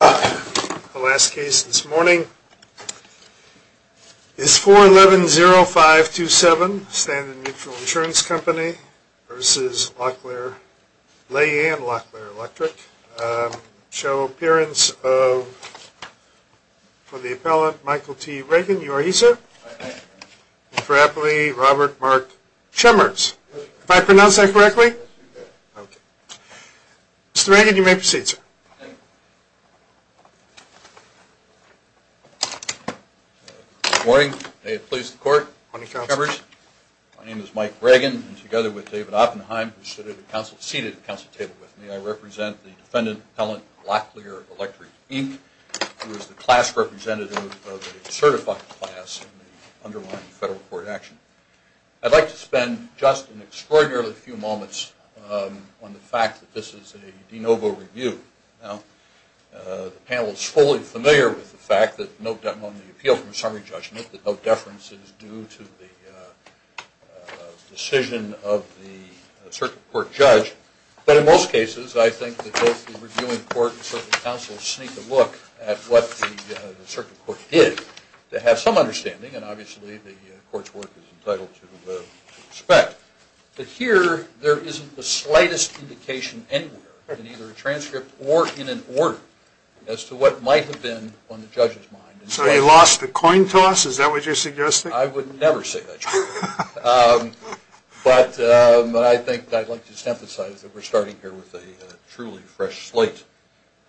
The last case this morning is 4110527, Standard Mutual Insurance Company v. Lay and Locklear Electric. Show appearance of, for the appellant, Michael T. Reagan. You are he, sir? I am. And for appellee, Robert Mark Chemers. If I pronounce that correctly? Yes, you did. Okay. Mr. Reagan, you may proceed, sir. Thank you. Good morning. May it please the court. Good morning, counsel. My name is Mike Reagan, and together with David Oppenheim, who is seated at the council table with me, I represent the defendant, appellant, Locklear Electric, Inc., who is the class representative of the certified class in the underlying federal court action. I'd like to spend just an extraordinarily few moments on the fact that this is a de novo review. Now, the panel is fully familiar with the fact that on the appeal from summary judgment, that no deference is due to the decision of the circuit court judge. But in most cases, I think that both the reviewing court and the circuit council will sneak a look at what the circuit court did to have some understanding, and obviously the court's work is entitled to respect. But here, there isn't the slightest indication anywhere, in either a transcript or in an order, as to what might have been on the judge's mind. So they lost the coin toss? Is that what you're suggesting? I would never say that. But I think I'd like to emphasize that we're starting here with a truly fresh slate.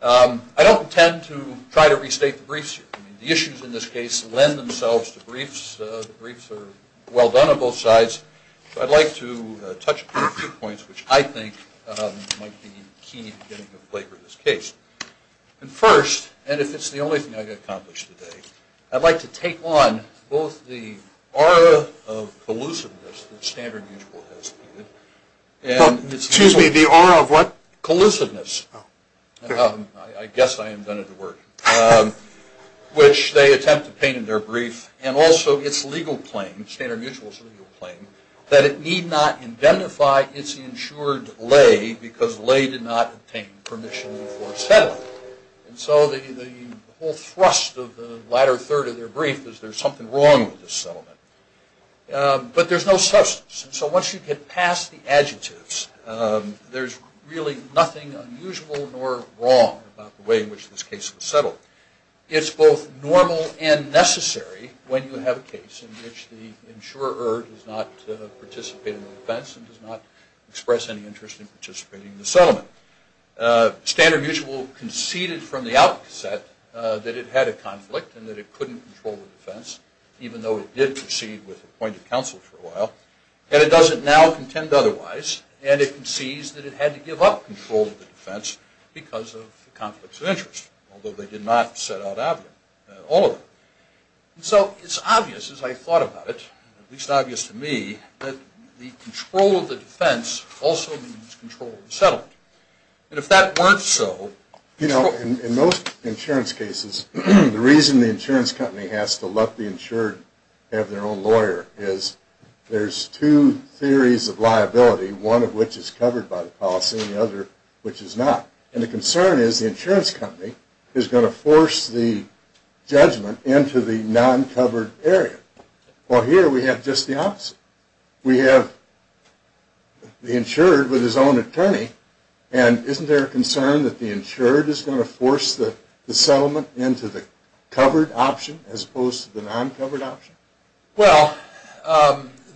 I don't intend to try to restate the briefs here. The issues in this case lend themselves to briefs. The briefs are well done on both sides. I'd like to touch upon a few points which I think might be key to getting a flavor of this case. First, and if it's the only thing I can accomplish today, I'd like to take on both the aura of collusiveness that standard mutual has. Excuse me, the aura of what? Collusiveness. I guess I invented the word. Which they attempt to paint in their brief, and also its legal claim, standard mutual's legal claim, that it need not indemnify its insured lay because lay did not obtain permission for settlement. And so the whole thrust of the latter third of their brief is there's something wrong with this settlement. But there's no substance. And so once you get past the adjectives, there's really nothing unusual nor wrong about the way in which this case was settled. It's both normal and necessary when you have a case in which the insurer does not participate in the defense and does not express any interest in participating in the settlement. Standard mutual conceded from the outset that it had a conflict and that it couldn't control the defense, even though it did proceed with appointed counsel for a while. And it doesn't now contend otherwise. And it concedes that it had to give up control of the defense because of conflicts of interest, although they did not set out all of it. And so it's obvious, as I thought about it, at least obvious to me, And if that weren't so... You know, in most insurance cases, the reason the insurance company has to let the insured have their own lawyer is there's two theories of liability, one of which is covered by the policy and the other which is not. And the concern is the insurance company is going to force the judgment into the non-covered area. Well, here we have just the opposite. We have the insured with his own attorney, and isn't there a concern that the insured is going to force the settlement into the covered option as opposed to the non-covered option? Well,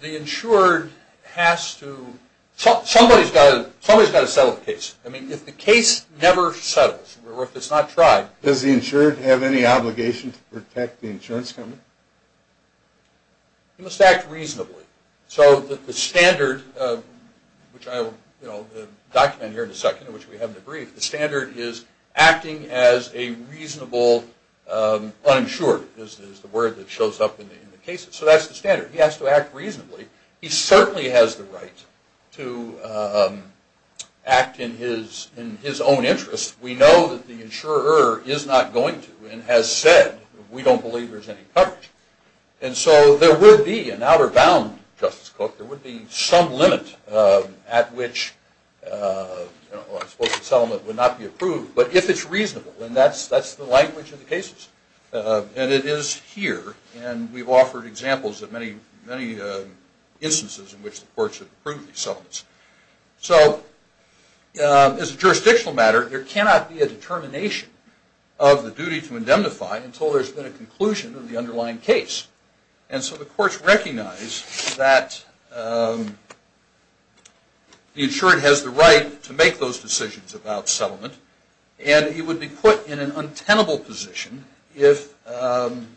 the insured has to... Somebody's got to settle the case. I mean, if the case never settles, or if it's not tried... Does the insured have any obligation to protect the insurance company? He must act reasonably. So the standard, which I will document here in a second, which we haven't agreed, the standard is acting as a reasonable uninsured is the word that shows up in the cases. So that's the standard. He has to act reasonably. He certainly has the right to act in his own interest. We know that the insurer is not going to and has said, we don't believe there's any coverage. And so there would be an outer bound, Justice Cook, there would be some limit at which a settlement would not be approved. But if it's reasonable, and that's the language of the cases, and it is here, and we've offered examples of many instances in which the courts have approved these settlements. So as a jurisdictional matter, there cannot be a determination of the duty to indemnify until there's been a conclusion of the underlying case. And so the courts recognize that the insured has the right to make those decisions about settlement, and he would be put in an untenable position if the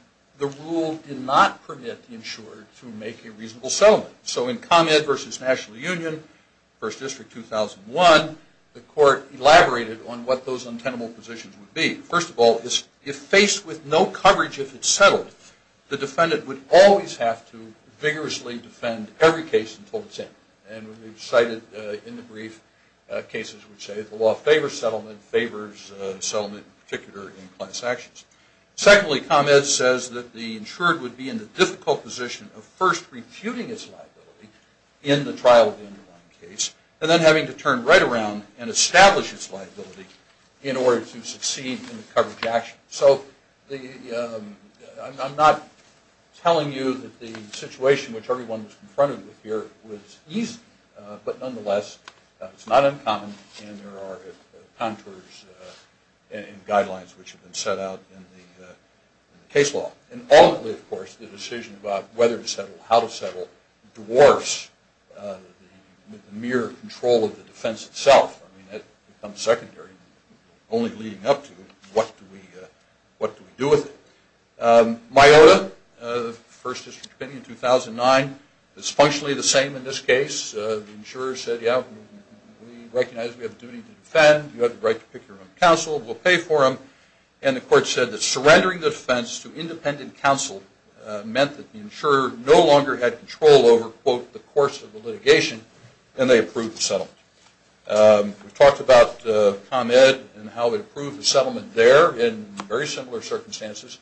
rule did not permit the insured to make a reasonable settlement. So in ComEd versus National Union, First District 2001, the court elaborated on what those untenable positions would be. First of all, if faced with no coverage if it's settled, the defendant would always have to vigorously defend every case until it's in. And we've cited in the brief cases which say the law favors settlement, favors settlement in particular in class actions. Secondly, ComEd says that the insured would be in the difficult position of first refuting its liability in the trial of the underlying case, and then having to turn right around and establish its liability in order to succeed in the coverage action. So I'm not telling you that the situation which everyone was confronted with here was easy, but nonetheless, it's not uncommon, and there are contours and guidelines which have been set out in the case law. And ultimately, of course, the decision about whether to settle, how to settle, dwarfs the mere control of the defense itself. I mean, that becomes secondary, only leading up to what do we do with it. MIOTA, the First District opinion, 2009, is functionally the same in this case. The insurer said, yeah, we recognize we have a duty to defend. You have the right to pick your own counsel. We'll pay for them. And the court said that surrendering the defense to independent counsel meant that the insurer no longer had control over, quote, the course of the litigation, and they approved the settlement. We talked about ComEd and how they approved the settlement there in very similar circumstances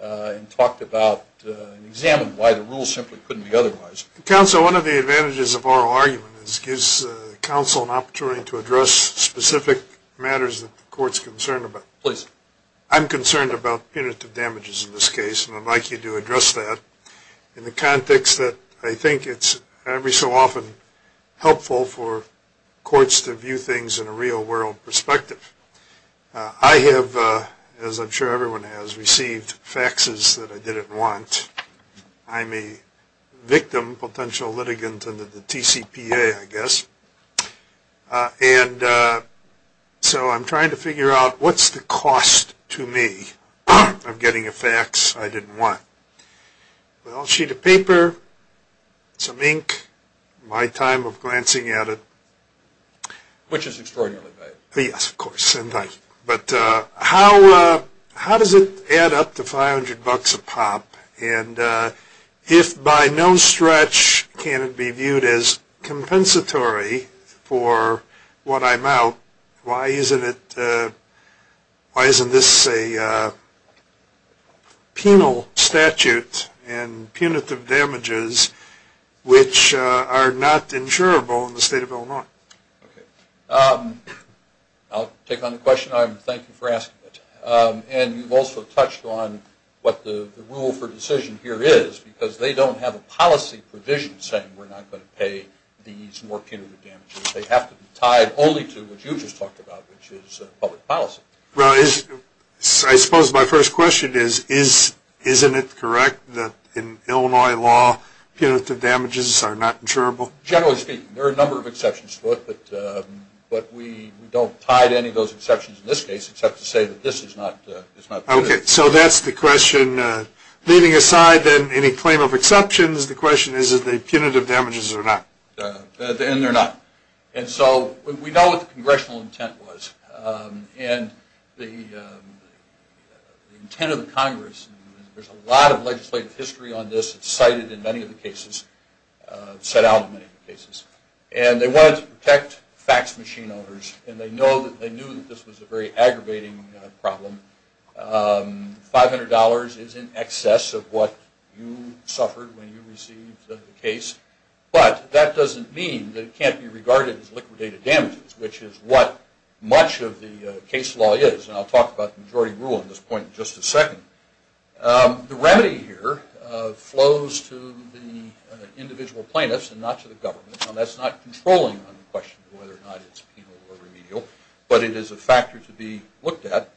and talked about and examined why the rules simply couldn't be otherwise. Counsel, one of the advantages of oral argument is it gives counsel an opportunity to address specific matters that the court's concerned about. Please. I'm concerned about punitive damages in this case, and I'd like you to address that in the context that I think it's every so often helpful for courts to view things in a real-world perspective. I have, as I'm sure everyone has, received faxes that I didn't want. I'm a victim, potential litigant under the TCPA, I guess. And so I'm trying to figure out what's the cost to me of getting a fax I didn't want. Well, a sheet of paper, some ink, my time of glancing at it. Which is extraordinarily valuable. Yes, of course. But how does it add up to 500 bucks a pop? And if by no stretch can it be viewed as compensatory for what I'm out, why isn't this a penal statute and punitive damages which are not insurable in the state of Illinois? Okay. I'll take on the question. Thank you for asking it. And you've also touched on what the rule for decision here is, because they don't have a policy provision saying we're not going to pay these nor punitive damages. They have to be tied only to what you just talked about, which is public policy. Well, I suppose my first question is, isn't it correct that in Illinois law punitive damages are not insurable? Generally speaking, there are a number of exceptions to it, but we don't tie to any of those exceptions in this case except to say that this is not. Okay. So that's the question. Leaving aside then any claim of exceptions, the question is, are they punitive damages or not? And they're not. And so we know what the congressional intent was. And the intent of the Congress, there's a lot of legislative history on this. It's cited in many of the cases, set out in many of the cases. And they wanted to protect fax machine owners, and they knew that this was a very aggravating problem. $500 is in excess of what you suffered when you received the case. But that doesn't mean that it can't be regarded as liquidated damages, which is what much of the case law is. And I'll talk about the majority rule at this point in just a second. The remedy here flows to the individual plaintiffs and not to the government, and that's not controlling on the question of whether or not it's penal or remedial, but it is a factor to be looked at.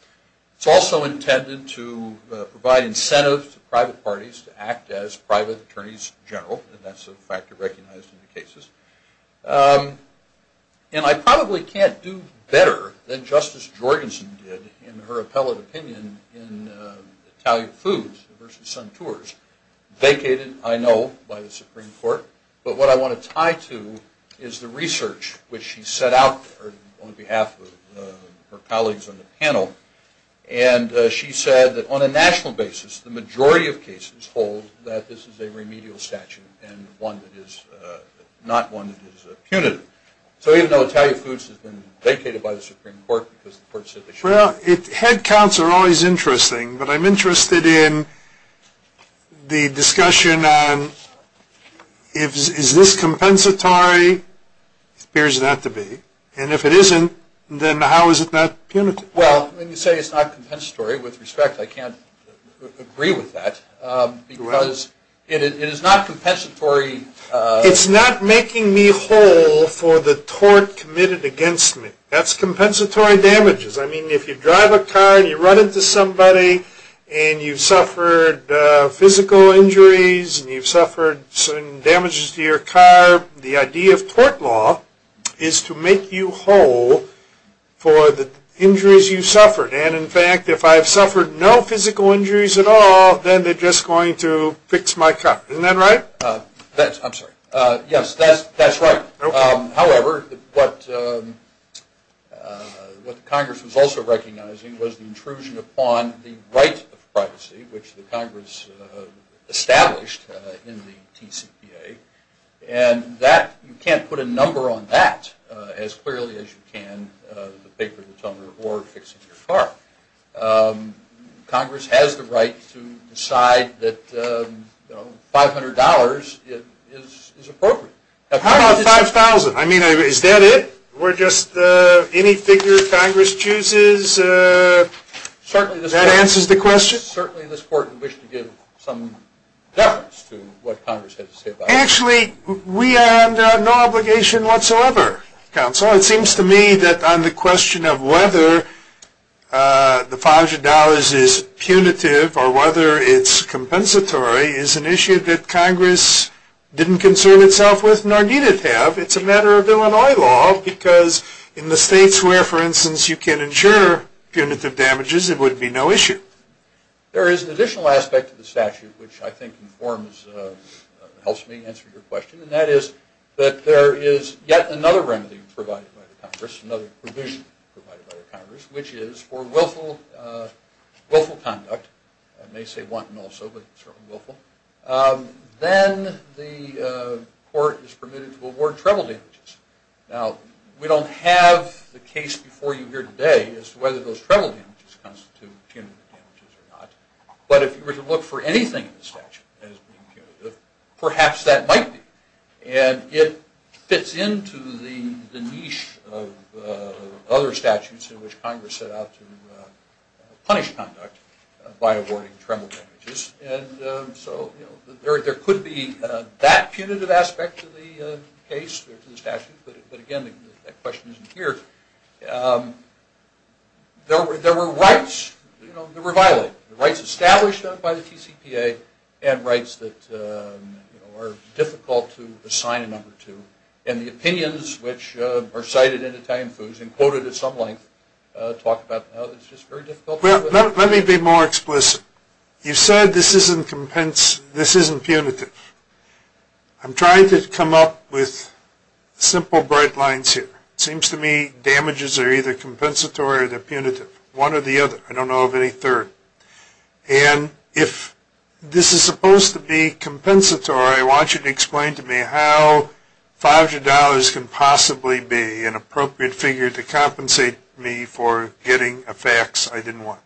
It's also intended to provide incentives to private parties to act as private attorneys general, and that's a factor recognized in the cases. And I probably can't do better than Justice Jorgensen did in her appellate opinion in Italian Foods versus Suntours, vacated, I know, by the Supreme Court. But what I want to tie to is the research which she set out on behalf of her colleagues on the panel. And she said that on a national basis, the majority of cases hold that this is a remedial statute and not one that is a punitive. So even though Italian Foods has been vacated by the Supreme Court because the court said they shouldn't. Well, head counts are always interesting, but I'm interested in the discussion on is this compensatory? It appears not to be. And if it isn't, then how is it not punitive? Well, when you say it's not compensatory, with respect, I can't agree with that. Because it is not compensatory. It's not making me whole for the tort committed against me. That's compensatory damages. I mean, if you drive a car and you run into somebody and you've suffered physical injuries and you've suffered certain damages to your car, the idea of tort law is to make you whole for the injuries you've suffered. And in fact, if I've suffered no physical injuries at all, then they're just going to fix my car. Isn't that right? I'm sorry. Yes, that's right. However, what Congress was also recognizing was the intrusion upon the right of privacy, which the Congress established in the TCPA. And you can't put a number on that as clearly as you can the paper that's on your board fixing your car. Congress has the right to decide that $500 is appropriate. How about $5,000? I mean, is that it? Or just any figure Congress chooses that answers the question? I guess certainly this Court would wish to give some deference to what Congress had to say about that. Actually, we have no obligation whatsoever, Counsel. It seems to me that on the question of whether the $500 is punitive or whether it's compensatory is an issue that Congress didn't concern itself with nor need it have. It's a matter of Illinois law because in the states where, for instance, you can insure punitive damages, it would be no issue. There is an additional aspect to the statute which I think informs, helps me answer your question, and that is that there is yet another remedy provided by the Congress, another provision provided by the Congress, which is for willful conduct. I may say wanton also, but certainly willful. Then the Court is permitted to award treble damages. Now, we don't have the case before you here today as to whether those treble damages constitute punitive damages or not. But if you were to look for anything in the statute as being punitive, perhaps that might be. And it fits into the niche of other statutes in which Congress set out to punish conduct by awarding treble damages. And so there could be that punitive aspect to the case or to the statute. But, again, that question isn't here. There were rights that were violated, rights established by the TCPA and rights that are difficult to assign a number to. And the opinions which are cited in Italian FOOS and quoted at some length talk about how it's just very difficult. Let me be more explicit. You said this isn't punitive. I'm trying to come up with simple bright lines here. It seems to me damages are either compensatory or they're punitive, one or the other. I don't know of any third. And if this is supposed to be compensatory, I want you to explain to me how $500 can possibly be an appropriate figure to compensate me for getting a fax I didn't want.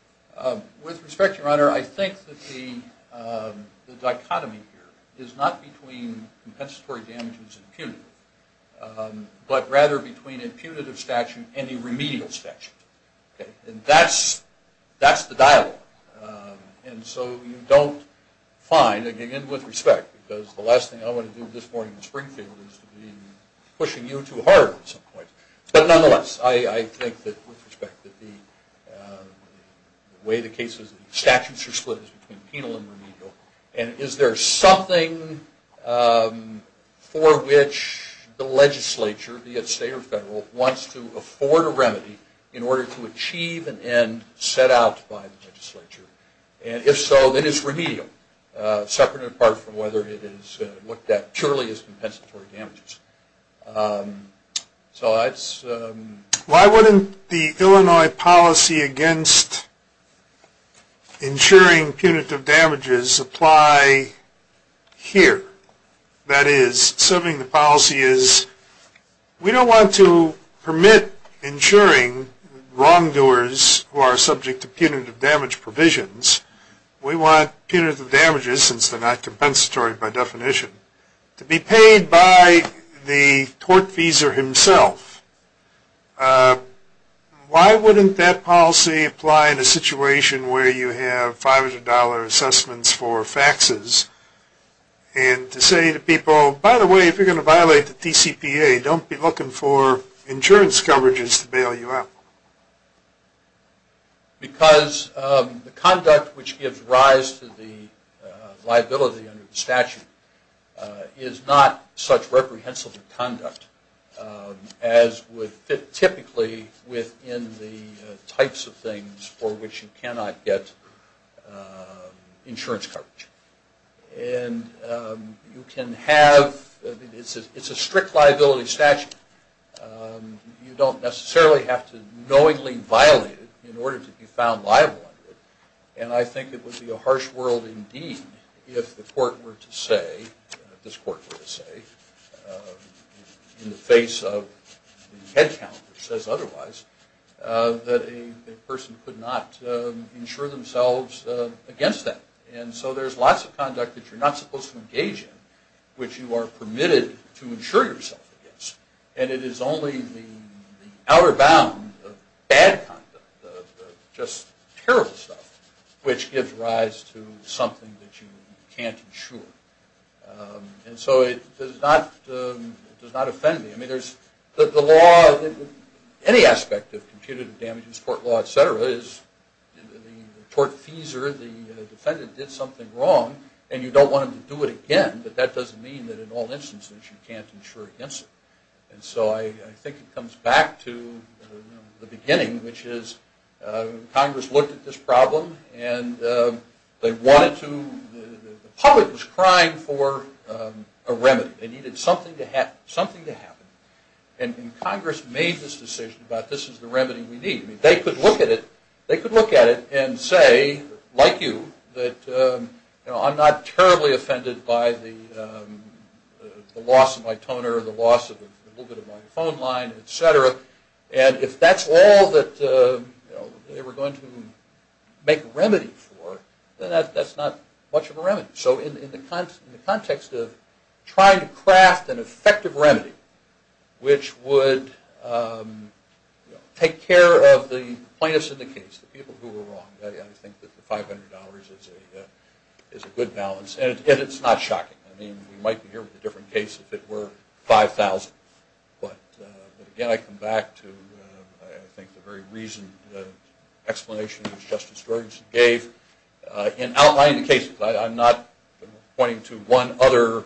With respect, Your Honor, I think that the dichotomy here is not between compensatory damages and punitive, but rather between a punitive statute and a remedial statute. And that's the dialogue. And so you don't find, again, with respect, because the last thing I want to do this morning in Springfield is to be pushing you too hard at some point. But nonetheless, I think that with respect that the way the cases and statutes are split is between penal and remedial. And is there something for which the legislature, be it state or federal, wants to afford a remedy in order to achieve an end set out by the legislature? And if so, then it's remedial, separate and apart from whether it is looked at purely as compensatory damages. So that's... Why wouldn't the Illinois policy against insuring punitive damages apply here? That is, something the policy is, we don't want to permit insuring wrongdoers who are subject to punitive damage provisions. We want punitive damages, since they're not compensatory by definition, to be paid by the tortfeasor himself. Why wouldn't that policy apply in a situation where you have $500 assessments for faxes? And to say to people, by the way, if you're going to violate the TCPA, don't be looking for insurance coverages to bail you out. Because the conduct which gives rise to the liability under the statute is not such reprehensible conduct as would fit typically within the types of things for which you cannot get insurance coverage. And you can have... It's a strict liability statute. You don't necessarily have to knowingly violate it in order to be found liable under it. And I think it would be a harsh world indeed if the court were to say, if this court were to say, in the face of the head count which says otherwise, that a person could not insure themselves against that. And so there's lots of conduct that you're not supposed to engage in which you are permitted to insure yourself against. And it is only the outer bound of bad conduct, just terrible stuff, which gives rise to something that you can't insure. And so it does not offend me. I mean, there's... The law... Any aspect of computative damages, court law, et cetera, is the court fees or the defendant did something wrong and you don't want them to do it again, but that doesn't mean that in all instances you can't insure against it. And so I think it comes back to the beginning, which is Congress looked at this problem and they wanted to... The public was crying for a remedy. They needed something to happen. And Congress made this decision about this is the remedy we need. They could look at it and say, like you, that I'm not terribly offended by the loss of my toner, the loss of a little bit of my phone line, et cetera. And if that's all that they were going to make a remedy for, then that's not much of a remedy. So in the context of trying to craft an effective remedy, which would take care of the plaintiffs in the case, the people who were wrong, I think that the $500 is a good balance. And it's not shocking. I mean, we might be here with a different case if it were $5,000. But again, I come back to I think the very reasoned explanation that Justice Gorganson gave in outlining the case. I'm not pointing to one other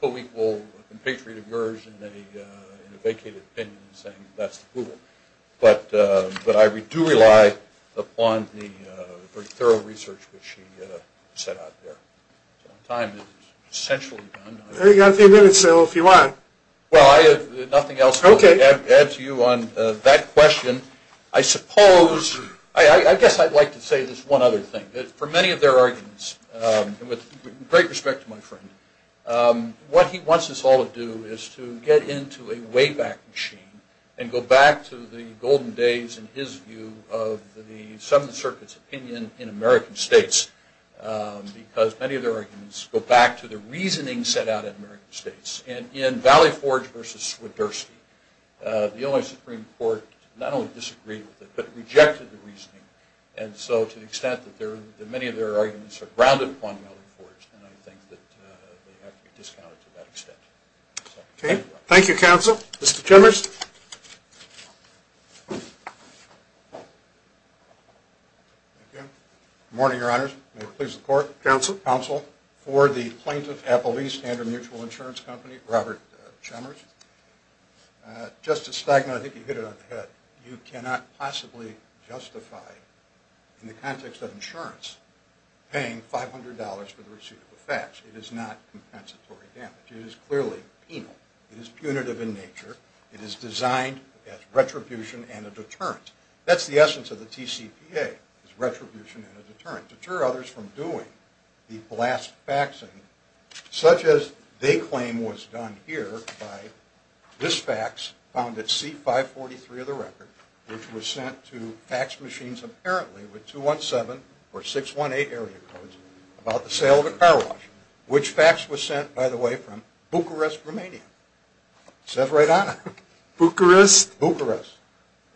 co-equal, compatriot of yours in a vacated opinion and saying that's the rule. But I do rely upon the very thorough research that she set out there. So my time is essentially done. I've got a few minutes, though, if you want. Well, I have nothing else to add to you on that question. I suppose I guess I'd like to say this one other thing. For many of their arguments, and with great respect to my friend, what he wants us all to do is to get into a wayback machine and go back to the golden days, in his view, of the Seventh Circuit's opinion in American states. Because many of their arguments go back to the reasoning set out in American states. In Valley Forge versus Swiderski, the only Supreme Court not only disagreed with it, but rejected the reasoning. And so to the extent that many of their arguments are grounded upon Valley Forge, then I think that they have to be discounted to that extent. Okay. Thank you, Counsel. Mr. Chemers. Good morning, Your Honors. May it please the Court. Counsel. Counsel for the plaintiff, Appellee Standard Mutual Insurance Company, Robert Chemers. Justice Steigman, I think you hit it on the head. You cannot possibly justify, in the context of insurance, paying $500 for the receipt of a fax. It is not compensatory damage. It is clearly penal. It is punitive in nature. It is designed as retribution and a deterrent. That's the essence of the TCPA, is retribution and a deterrent. from doing the blast faxing such as they claim was done here by this fax found at C543 of the record, which was sent to fax machines apparently with 217 or 618 area codes about the sale of a car wash, which fax was sent, by the way, from Bucharest, Romania. It says right on it. Bucharest. Bucharest.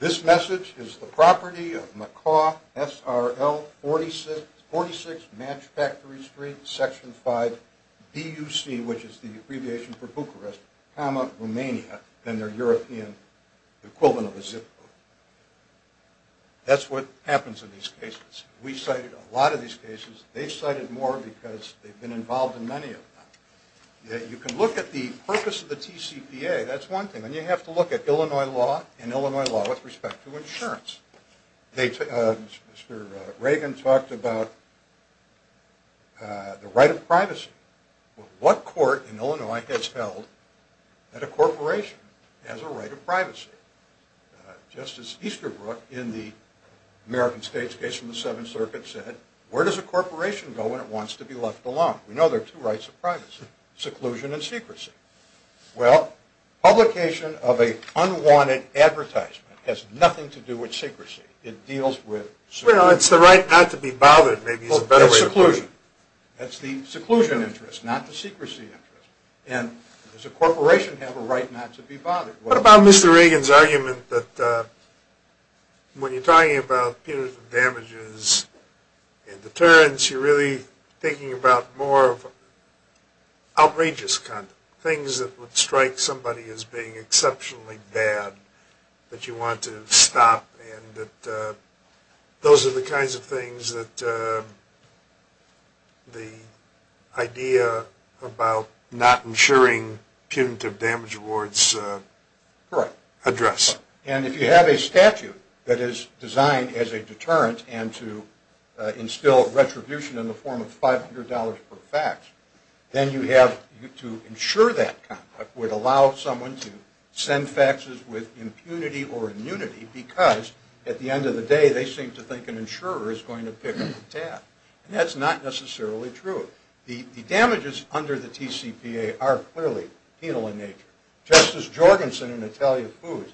This message is the property of Macaw, SRL 46, Match Factory Street, Section 5, BUC, which is the abbreviation for Bucharest, Romania, and their European equivalent of a zip code. That's what happens in these cases. We cited a lot of these cases. They cited more because they've been involved in many of them. You can look at the purpose of the TCPA. That's one thing. Then you have to look at Illinois law and Illinois law with respect to insurance. Mr. Reagan talked about the right of privacy. What court in Illinois has held that a corporation has a right of privacy? Justice Easterbrook in the American States case from the Seventh Circuit said, where does a corporation go when it wants to be left alone? We know there are two rights of privacy, seclusion and secrecy. Well, publication of an unwanted advertisement has nothing to do with secrecy. It deals with seclusion. Well, it's the right not to be bothered maybe is a better way to put it. That's seclusion. That's the seclusion interest, not the secrecy interest. And does a corporation have a right not to be bothered? What about Mr. Reagan's argument that when you're talking about punitive damages and deterrence, you're really thinking about more of outrageous conduct, things that would strike somebody as being exceptionally bad that you want to stop, and that those are the kinds of things that the idea about not ensuring punitive damage awards address. And if you have a statute that is designed as a deterrent and to instill retribution in the form of $500 per fax, then you have to ensure that conduct would allow someone to send faxes with impunity or immunity because at the end of the day they seem to think an insurer is going to pick up the tab. And that's not necessarily true. The damages under the TCPA are clearly penal in nature. Justice Jorgensen in Italian Food,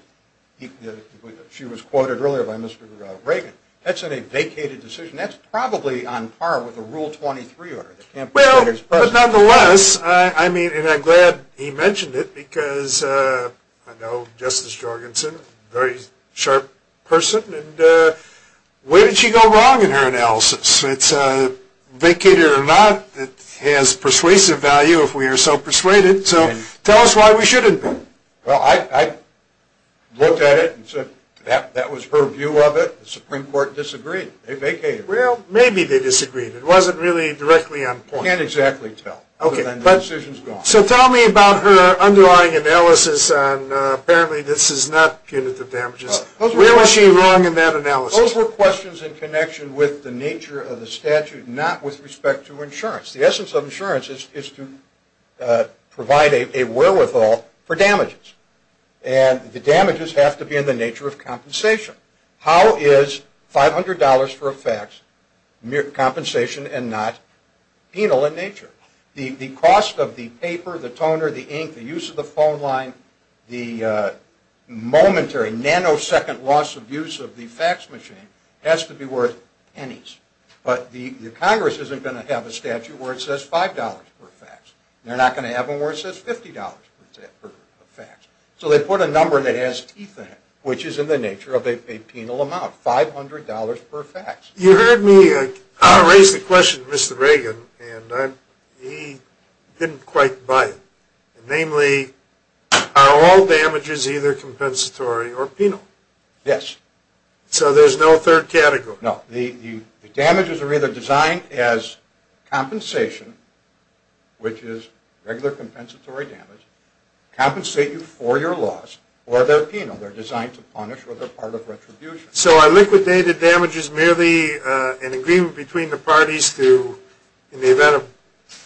she was quoted earlier by Mr. Reagan, that's a vacated decision. That's probably on par with the Rule 23 order. Well, but nonetheless, I mean, and I'm glad he mentioned it because I know Justice Jorgensen, a very sharp person, and where did she go wrong in her analysis? It's vacated or not, it has persuasive value if we are so persuaded. So tell us why we shouldn't. Well, I looked at it and said that was her view of it. The Supreme Court disagreed. They vacated. Well, maybe they disagreed. It wasn't really directly on point. You can't exactly tell other than the decision is gone. So tell me about her underlying analysis on apparently this is not punitive damages. Where was she wrong in that analysis? Those were questions in connection with the nature of the statute, not with respect to insurance. The essence of insurance is to provide a wherewithal for damages. And the damages have to be in the nature of compensation. How is $500 for a fax compensation and not penal in nature? The cost of the paper, the toner, the ink, the use of the phone line, the momentary nanosecond loss of use of the fax machine has to be worth pennies. But the Congress isn't going to have a statute where it says $5 per fax. They're not going to have one where it says $50 per fax. So they put a number that has teeth in it, which is in the nature of a penal amount, $500 per fax. You heard me raise the question to Mr. Reagan, and he didn't quite buy it. Namely, are all damages either compensatory or penal? Yes. So there's no third category. No. The damages are either designed as compensation, which is regular compensatory damage, compensate you for your loss, or they're penal. They're designed to punish or they're part of retribution. So a liquidated damage is merely an agreement between the parties to, in the event of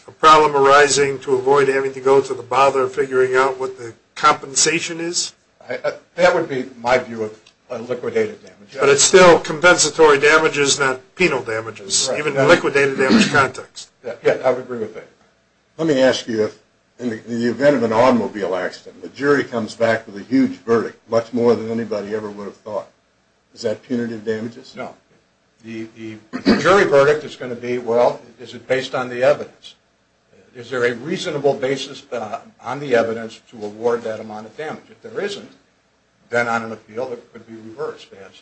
a problem arising, to avoid having to go to the bother of figuring out what the compensation is? That would be my view of a liquidated damage. But it's still compensatory damages, not penal damages, even in a liquidated damage context. Yes, I would agree with that. Let me ask you, in the event of an automobile accident, the jury comes back with a huge verdict, much more than anybody ever would have thought. Is that punitive damages? No. The jury verdict is going to be, well, is it based on the evidence? Is there a reasonable basis on the evidence to award that amount of damage? If there isn't, then on an appeal, it could be reversed, perhaps.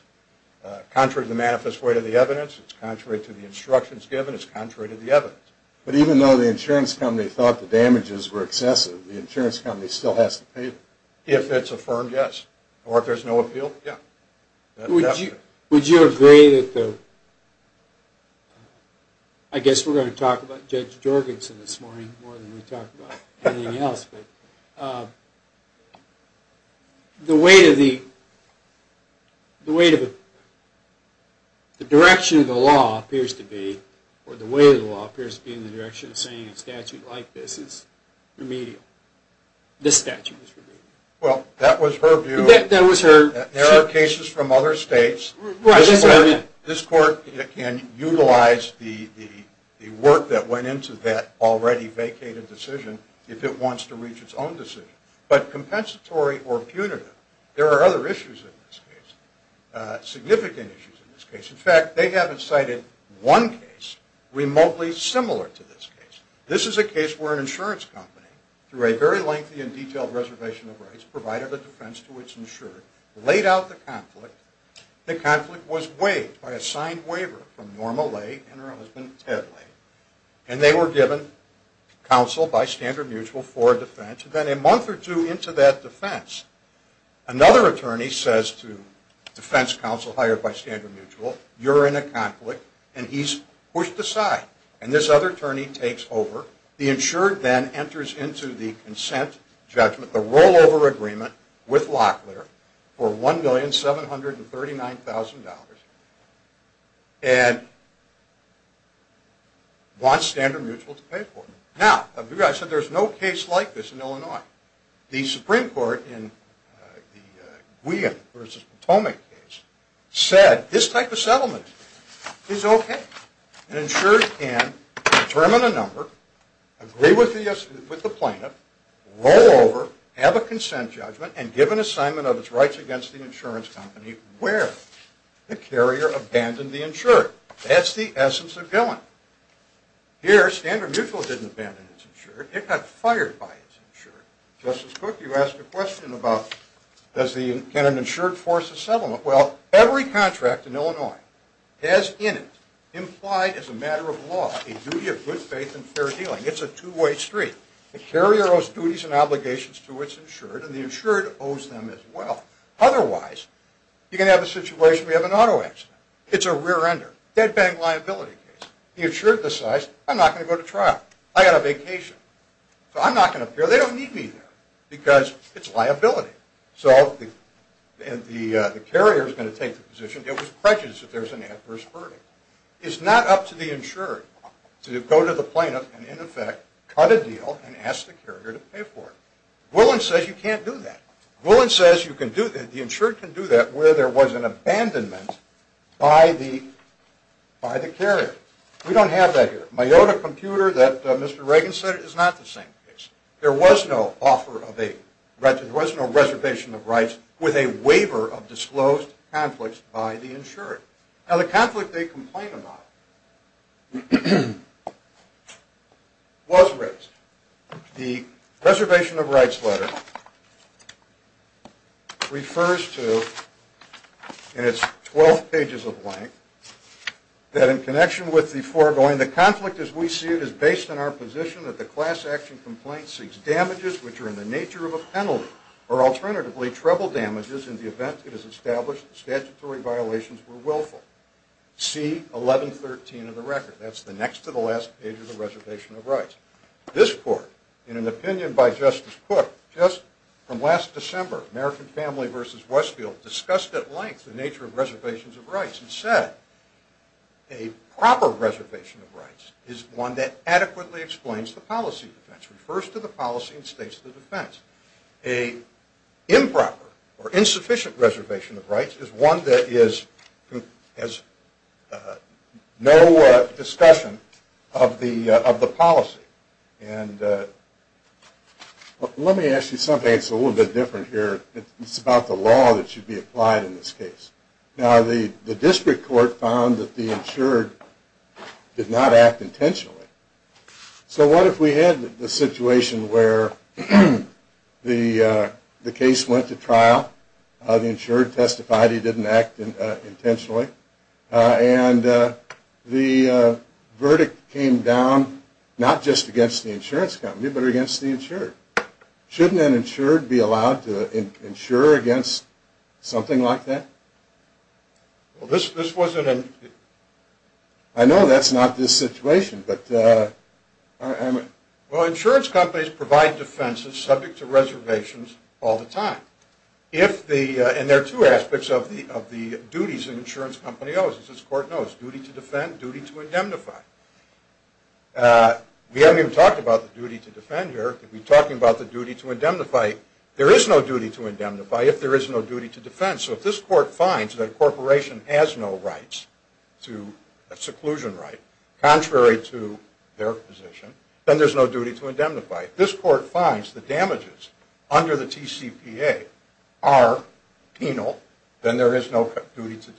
Contrary to the manifest way of the evidence, it's contrary to the instructions given, it's contrary to the evidence. But even though the insurance company thought the damages were excessive, the insurance company still has to pay them. If it's affirmed, yes. Or if there's no appeal, yeah. Would you agree that the – I guess we're going to talk about Judge Jorgensen this morning more than we talked about anything else. The weight of the – the direction of the law appears to be, or the weight of the law appears to be in the direction of saying a statute like this is remedial. This statute is remedial. Well, that was her view. That was her – There are cases from other states. Right, that's what I meant. This court can utilize the work that went into that already vacated decision if it wants to reach its own decision. But compensatory or punitive, there are other issues in this case, significant issues in this case. In fact, they haven't cited one case remotely similar to this case. This is a case where an insurance company, through a very lengthy and detailed reservation of rights, provided a defense to its insurer, laid out the conflict. The conflict was waived by a signed waiver from Norma Lay and her husband Ted Lay. And they were given counsel by Standard Mutual for defense. Then a month or two into that defense, another attorney says to defense counsel hired by Standard Mutual, you're in a conflict and he's pushed aside. And this other attorney takes over. The insured then enters into the consent judgment, the rollover agreement with Locklear for $1,739,000 and wants Standard Mutual to pay for it. Now, I said there's no case like this in Illinois. The Supreme Court in the Guillaume v. Potomac case said this type of settlement is okay. An insured can determine a number, agree with the plaintiff, rollover, have a consent judgment, and give an assignment of its rights against the insurance company where the carrier abandoned the insured. That's the essence of Guillaume. Here, Standard Mutual didn't abandon its insured. It got fired by its insured. Justice Cook, you asked a question about can an insured force a settlement. Well, every contract in Illinois has in it, implied as a matter of law, a duty of good faith and fair dealing. It's a two-way street. The carrier owes duties and obligations to its insured, and the insured owes them as well. Otherwise, you're going to have a situation where you have an auto accident. It's a rear-ender, dead-bang liability case. The insured decides, I'm not going to go to trial. I've got a vacation, so I'm not going to appear. They don't need me there because it's liability. So the carrier is going to take the position. It was prejudice that there's an adverse verdict. It's not up to the insured to go to the plaintiff and, in effect, cut a deal and ask the carrier to pay for it. Gwilin says you can't do that. Gwilin says you can do that. The insured can do that where there was an abandonment by the carrier. We don't have that here. Miyota Computer, that Mr. Reagan said, is not the same case. There was no offer of a reservation of rights with a waiver of disclosed conflicts by the insured. Now, the conflict they complain about was raised. The reservation of rights letter refers to, in its 12 pages of length, that in connection with the foregoing, is based on our position that the class action complaint seeks damages which are in the nature of a penalty or, alternatively, treble damages in the event it is established that statutory violations were willful. See 1113 of the record. That's the next to the last page of the reservation of rights. This court, in an opinion by Justice Cook, just from last December, American Family v. Westfield, discussed at length the nature of reservations of rights and said a proper reservation of rights is one that adequately explains the policy defense, refers to the policy and states the defense. An improper or insufficient reservation of rights is one that has no discussion of the policy. Let me ask you something that's a little bit different here. It's about the law that should be applied in this case. Now, the district court found that the insured did not act intentionally. So what if we had the situation where the case went to trial, the insured testified he didn't act intentionally, and the verdict came down not just against the insurance company but against the insured. Shouldn't an insured be allowed to insure against something like that? I know that's not this situation. Well, insurance companies provide defenses subject to reservations all the time. And there are two aspects of the duties an insurance company owes. As this court knows, duty to defend, duty to indemnify. We haven't even talked about the duty to defend here. If we're talking about the duty to indemnify, there is no duty to indemnify if there is no duty to defend. So if this court finds that a corporation has no rights to a seclusion right contrary to their position, then there's no duty to indemnify. If this court finds the damages under the TCPA are penal, then there is no duty to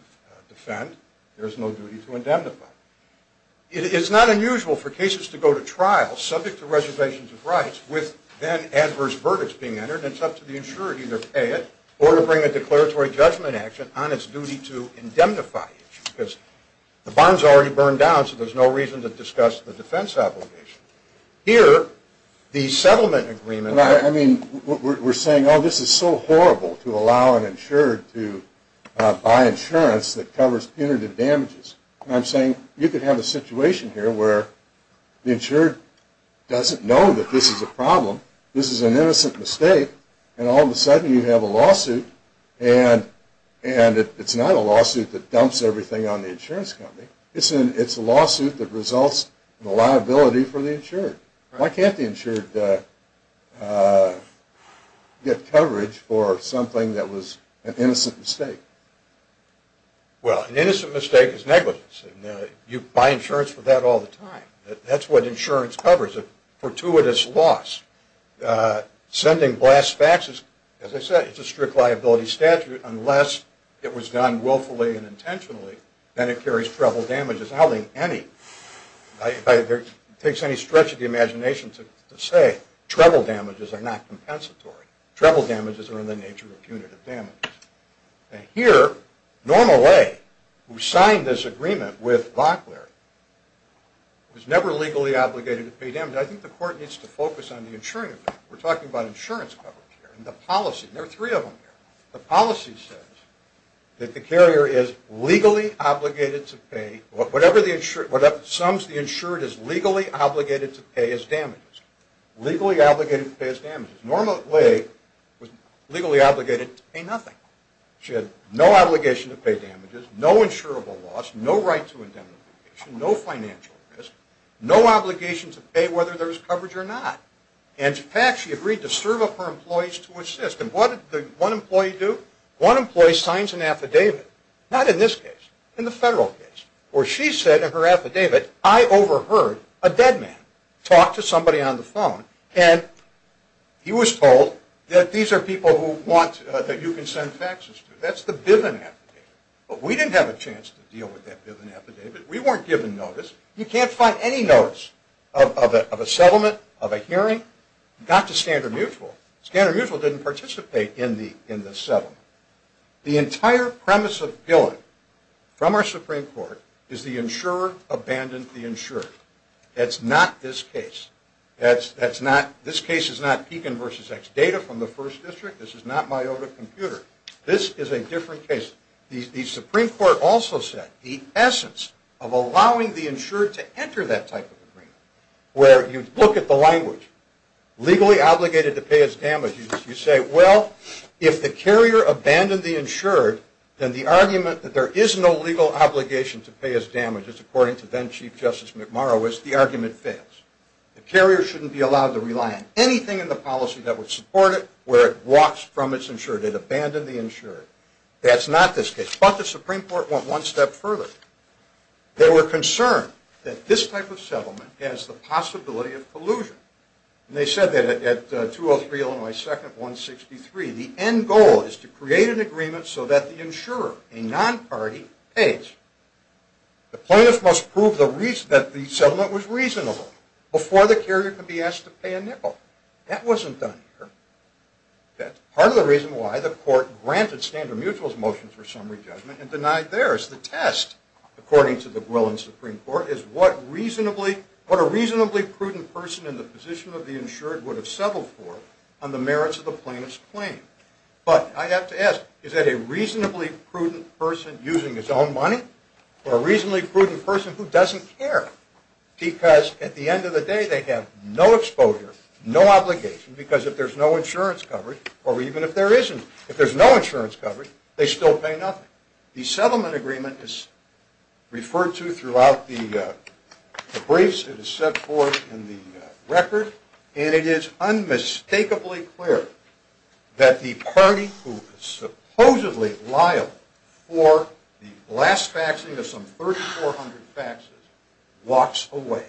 defend. There is no duty to indemnify. It is not unusual for cases to go to trial subject to reservations of rights with then adverse verdicts being entered, and it's up to the insured to either pay it or to bring a declaratory judgment action on its duty to indemnify it. Because the bond's already burned down, so there's no reason to discuss the defense obligation. Here, the settlement agreement... I mean, we're saying, oh, this is so horrible to allow an insured to buy insurance that covers punitive damages. And I'm saying you could have a situation here where the insured doesn't know that this is a problem. This is an innocent mistake, and all of a sudden you have a lawsuit, and it's not a lawsuit that dumps everything on the insurance company. It's a lawsuit that results in a liability for the insured. Why can't the insured get coverage for something that was an innocent mistake? Well, an innocent mistake is negligence, and you buy insurance for that all the time. That's what insurance covers, a fortuitous loss. Sending blast faxes, as I said, it's a strict liability statute, unless it was done willfully and intentionally, then it carries treble damages. It takes any stretch of the imagination to say treble damages are not compensatory. Treble damages are in the nature of punitive damages. And here, Norma Leigh, who signed this agreement with Bockler, was never legally obligated to pay damages. I think the court needs to focus on the insurance. We're talking about insurance coverage here, and the policy. There are three of them here. The policy says that the carrier is legally obligated to pay... Whatever sums the insured is legally obligated to pay as damages. Legally obligated to pay as damages. Norma Leigh was legally obligated to pay nothing. She had no obligation to pay damages, no insurable loss, no right to indemnification, no financial risk, no obligation to pay whether there was coverage or not. And in fact, she agreed to serve up her employees to assist. And what did one employee do? One employee signs an affidavit, not in this case, in the federal case, where she said in her affidavit, I overheard a dead man talk to somebody on the phone, and he was told that these are people that you can send taxes to. That's the Biven affidavit. But we didn't have a chance to deal with that Biven affidavit. We weren't given notice. You can't find any notice of a settlement, of a hearing, not to Standard Mutual. Standard Mutual didn't participate in the settlement. The entire premise of billing from our Supreme Court is the insurer abandoned the insured. That's not this case. This case is not Pekin v. X data from the First District. This is not my old computer. This is a different case. The Supreme Court also said the essence of allowing the insured to enter that type of agreement, where you look at the language, legally obligated to pay as damages, you say, well, if the carrier abandoned the insured, which is according to then Chief Justice McMurrow, is the argument fails. The carrier shouldn't be allowed to rely on anything in the policy that would support it where it walks from its insured. It abandoned the insured. That's not this case. But the Supreme Court went one step further. They were concerned that this type of settlement has the possibility of collusion. And they said that at 203 Illinois 2nd, 163, the end goal is to create an agreement so that the insurer, a non-party, pays. The plaintiff must prove that the settlement was reasonable before the carrier can be asked to pay a nickel. That wasn't done here. That's part of the reason why the court granted Standard Mutual's motion for summary judgment and denied theirs. The test, according to the Grillen Supreme Court, is what a reasonably prudent person in the position of the insured would have settled for on the merits of the plaintiff's claim. But I have to ask, is that a reasonably prudent person using his own money or a reasonably prudent person who doesn't care? Because at the end of the day, they have no exposure, no obligation, because if there's no insurance coverage, or even if there isn't, if there's no insurance coverage, they still pay nothing. The settlement agreement is referred to throughout the briefs. It is set forth in the record. And it is unmistakably clear that the party who is supposedly liable for the last faxing of some 3,400 faxes walks away,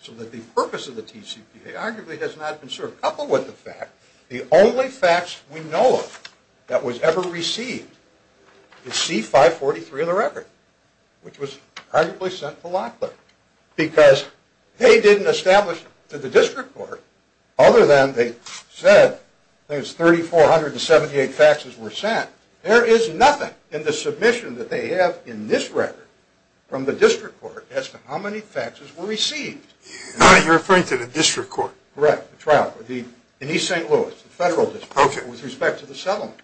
so that the purpose of the TCPA arguably has not been served, coupled with the fact the only fax we know of that was ever received is C-543 of the record, which was arguably sent to Locklear, because they didn't establish to the district court, other than they said there's 3,478 faxes were sent, there is nothing in the submission that they have in this record from the district court as to how many faxes were received. You're referring to the district court. Correct, the trial court, in East St. Louis, the federal district, with respect to the settlement.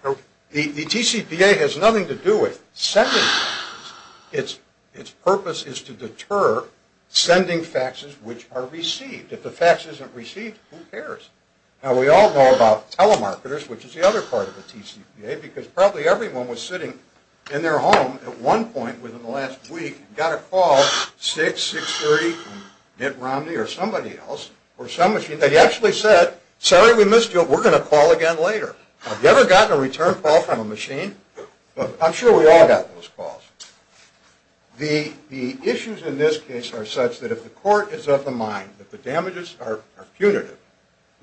The TCPA has nothing to do with sending faxes. Its purpose is to deter sending faxes which are received. If the fax isn't received, who cares? Now, we all know about telemarketers, which is the other part of the TCPA, because probably everyone was sitting in their home at one point within the last week and got a call, 6, 630, Mitt Romney, or somebody else, or some machine, that actually said, sorry we missed you, we're going to call again later. Have you ever gotten a return call from a machine? I'm sure we all got those calls. The issues in this case are such that if the court is of the mind that the damages are punitive,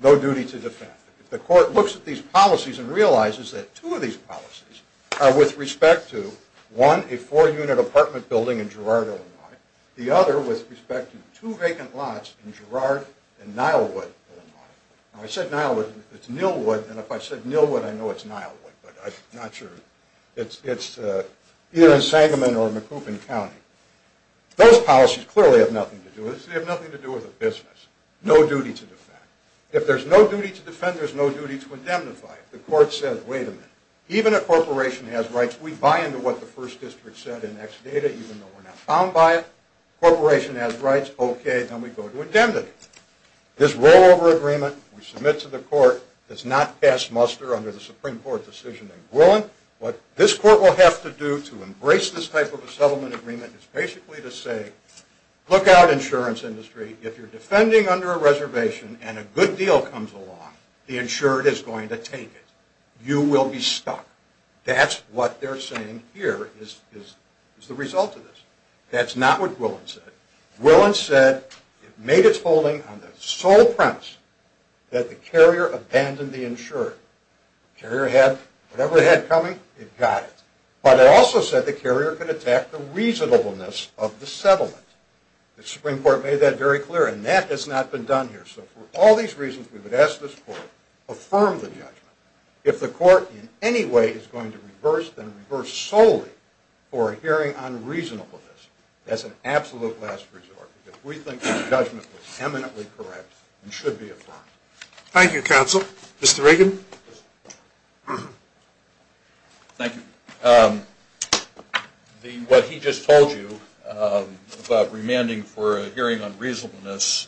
no duty to defend. If the court looks at these policies and realizes that two of these policies are with respect to, one, a four-unit apartment building in Girard, Illinois, the other with respect to two vacant lots in Girard and Nilewood, Illinois. I said Nilewood, it's Nilewood, and if I said Nilewood, I know it's Nilewood, but I'm not sure. It's either in Sangamon or in Macoupin County. Those policies clearly have nothing to do with this. They have nothing to do with the business. No duty to defend. If there's no duty to defend, there's no duty to indemnify. The court says, wait a minute, even if a corporation has rights, we buy into what the first district said in X data, even though we're not bound by it. Corporation has rights, okay, then we go to indemnity. This rollover agreement, we submit to the court, does not pass muster under the Supreme Court decision in Gwilin. What this court will have to do to embrace this type of a settlement agreement is basically to say, look out, insurance industry, if you're defending under a reservation and a good deal comes along, the insured is going to take it. You will be stuck. That's what they're saying here is the result of this. That's not what Gwilin said. Gwilin said it made its holding on the sole premise that the carrier abandoned the insured. The carrier had whatever it had coming, it got it. But it also said the carrier could attack the reasonableness of the settlement. The Supreme Court made that very clear, and that has not been done here. So for all these reasons, we would ask this court, affirm the judgment. If the court in any way is going to reverse, then reverse solely for a hearing on reasonableness as an absolute last resort, because we think the judgment was eminently correct and should be affirmed. Thank you, counsel. Mr. Regan. Thank you. What he just told you about remanding for a hearing on reasonableness,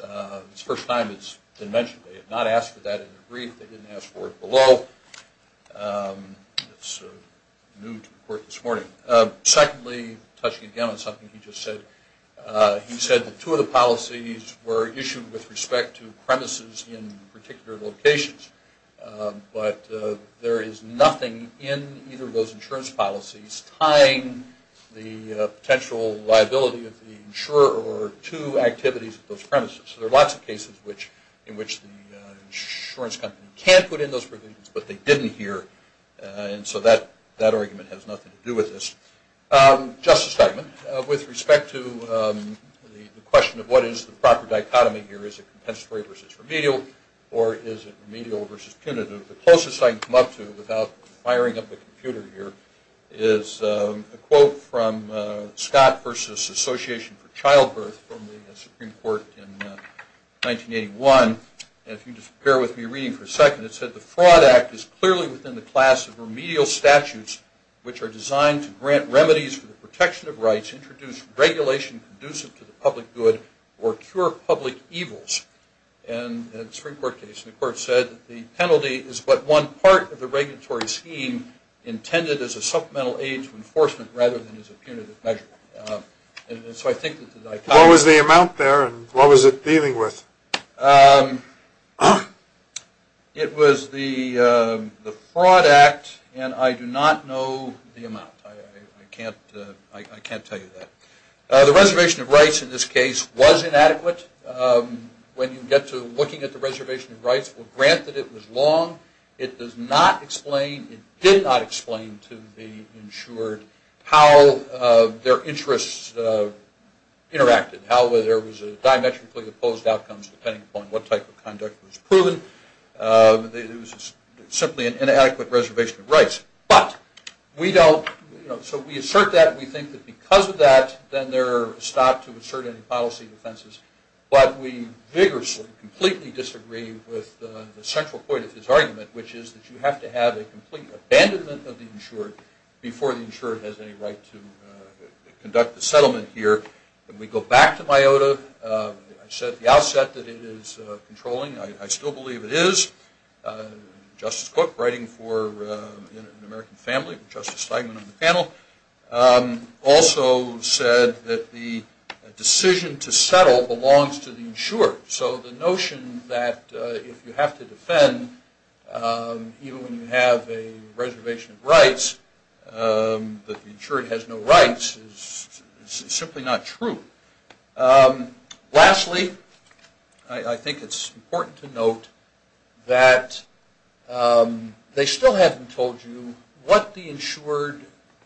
it's the first time it's been mentioned. They have not asked for that in the brief. They didn't ask for it below. It's new to the court this morning. Secondly, touching again on something he just said, he said that two of the policies were issued with respect to premises in particular locations, but there is nothing in either of those insurance policies tying the potential liability of the insurer to activities of those premises. There are lots of cases in which the insurance company can put in those provisions, but they didn't here, and so that argument has nothing to do with this. Justice Steinman, with respect to the question of what is the proper dichotomy here, is it compensatory versus remedial, or is it remedial versus punitive, the closest I can come up to without firing up the computer here is a quote from Scott versus Association for Childbirth from the Supreme Court in 1981, and if you just bear with me reading for a second, it said, the Fraud Act is clearly within the class of remedial statutes, which are designed to grant remedies for the protection of rights, introduce regulation conducive to the public good, or cure public evils. And the Supreme Court case, the court said, the penalty is but one part of the regulatory scheme intended as a supplemental aid to enforcement rather than as a punitive measure. What was the amount there, and what was it dealing with? It was the Fraud Act, and I do not know the amount. I can't tell you that. The reservation of rights in this case was inadequate. When you get to looking at the reservation of rights, granted it was long, it does not explain, it did not explain to the insured how their interests interacted, how there was a diametrically opposed outcome, depending upon what type of conduct was proven. It was simply an inadequate reservation of rights. But we don't, you know, so we assert that. We think that because of that, then they're stopped to assert any policy offenses. But we vigorously completely disagree with the central point of his argument, which is that you have to have a complete abandonment of the insured before the insured has any right to conduct the settlement here. When we go back to MIOTA, I said at the outset that it is controlling. I still believe it is. Justice Cook, writing for an American family, Justice Steinman on the panel, also said that the decision to settle belongs to the insured. So the notion that if you have to defend, even when you have a reservation of rights, that the insured has no rights is simply not true. Lastly, I think it's important to note that they still haven't told you what the insured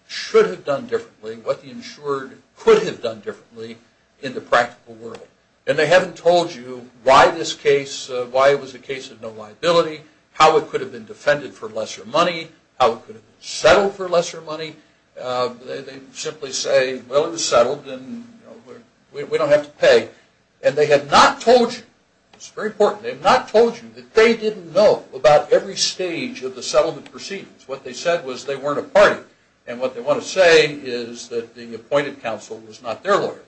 should have done differently, what the insured could have done differently in the practical world. And they haven't told you why this case, why it was a case of no liability, how it could have been defended for lesser money, how it could have been settled for lesser money. They simply say, well, it was settled and we don't have to pay. And they have not told you, it's very important, they have not told you that they didn't know about every stage of the settlement proceedings. What they said was they weren't a party. And what they want to say is that the appointed counsel was not their lawyer.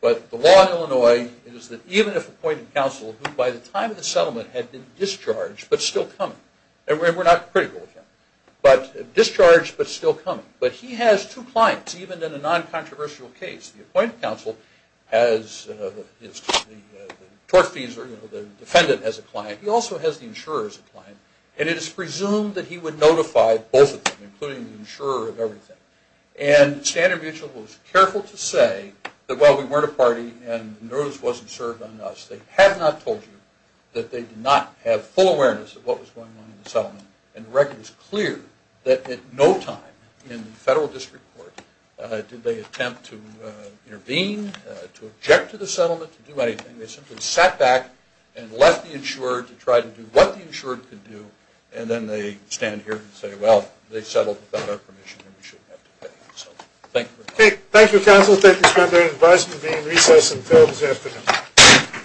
But the law in Illinois is that even if the appointed counsel, who by the time of the settlement had been discharged but still coming, and we're not critical of him, but discharged but still coming, but he has two clients even in a non-controversial case. The appointed counsel has the tort fees or the defendant as a client. He also has the insurer as a client. And it is presumed that he would notify both of them, including the insurer of everything. And Standard Mutual was careful to say that while we weren't a party and the notice wasn't served on us, they had not told you that they did not have full awareness of what was going on in the settlement. And the record is clear that at no time in the federal district court did they attempt to intervene, to object to the settlement, to do anything. They simply sat back and left the insurer to try to do what the insurer could do, and then they stand here and say, well, they settled without our permission and we shouldn't have to pay. So thank you very much. Okay. Thank you, counsel. Thank you for your advice. We'll be in recess until this afternoon.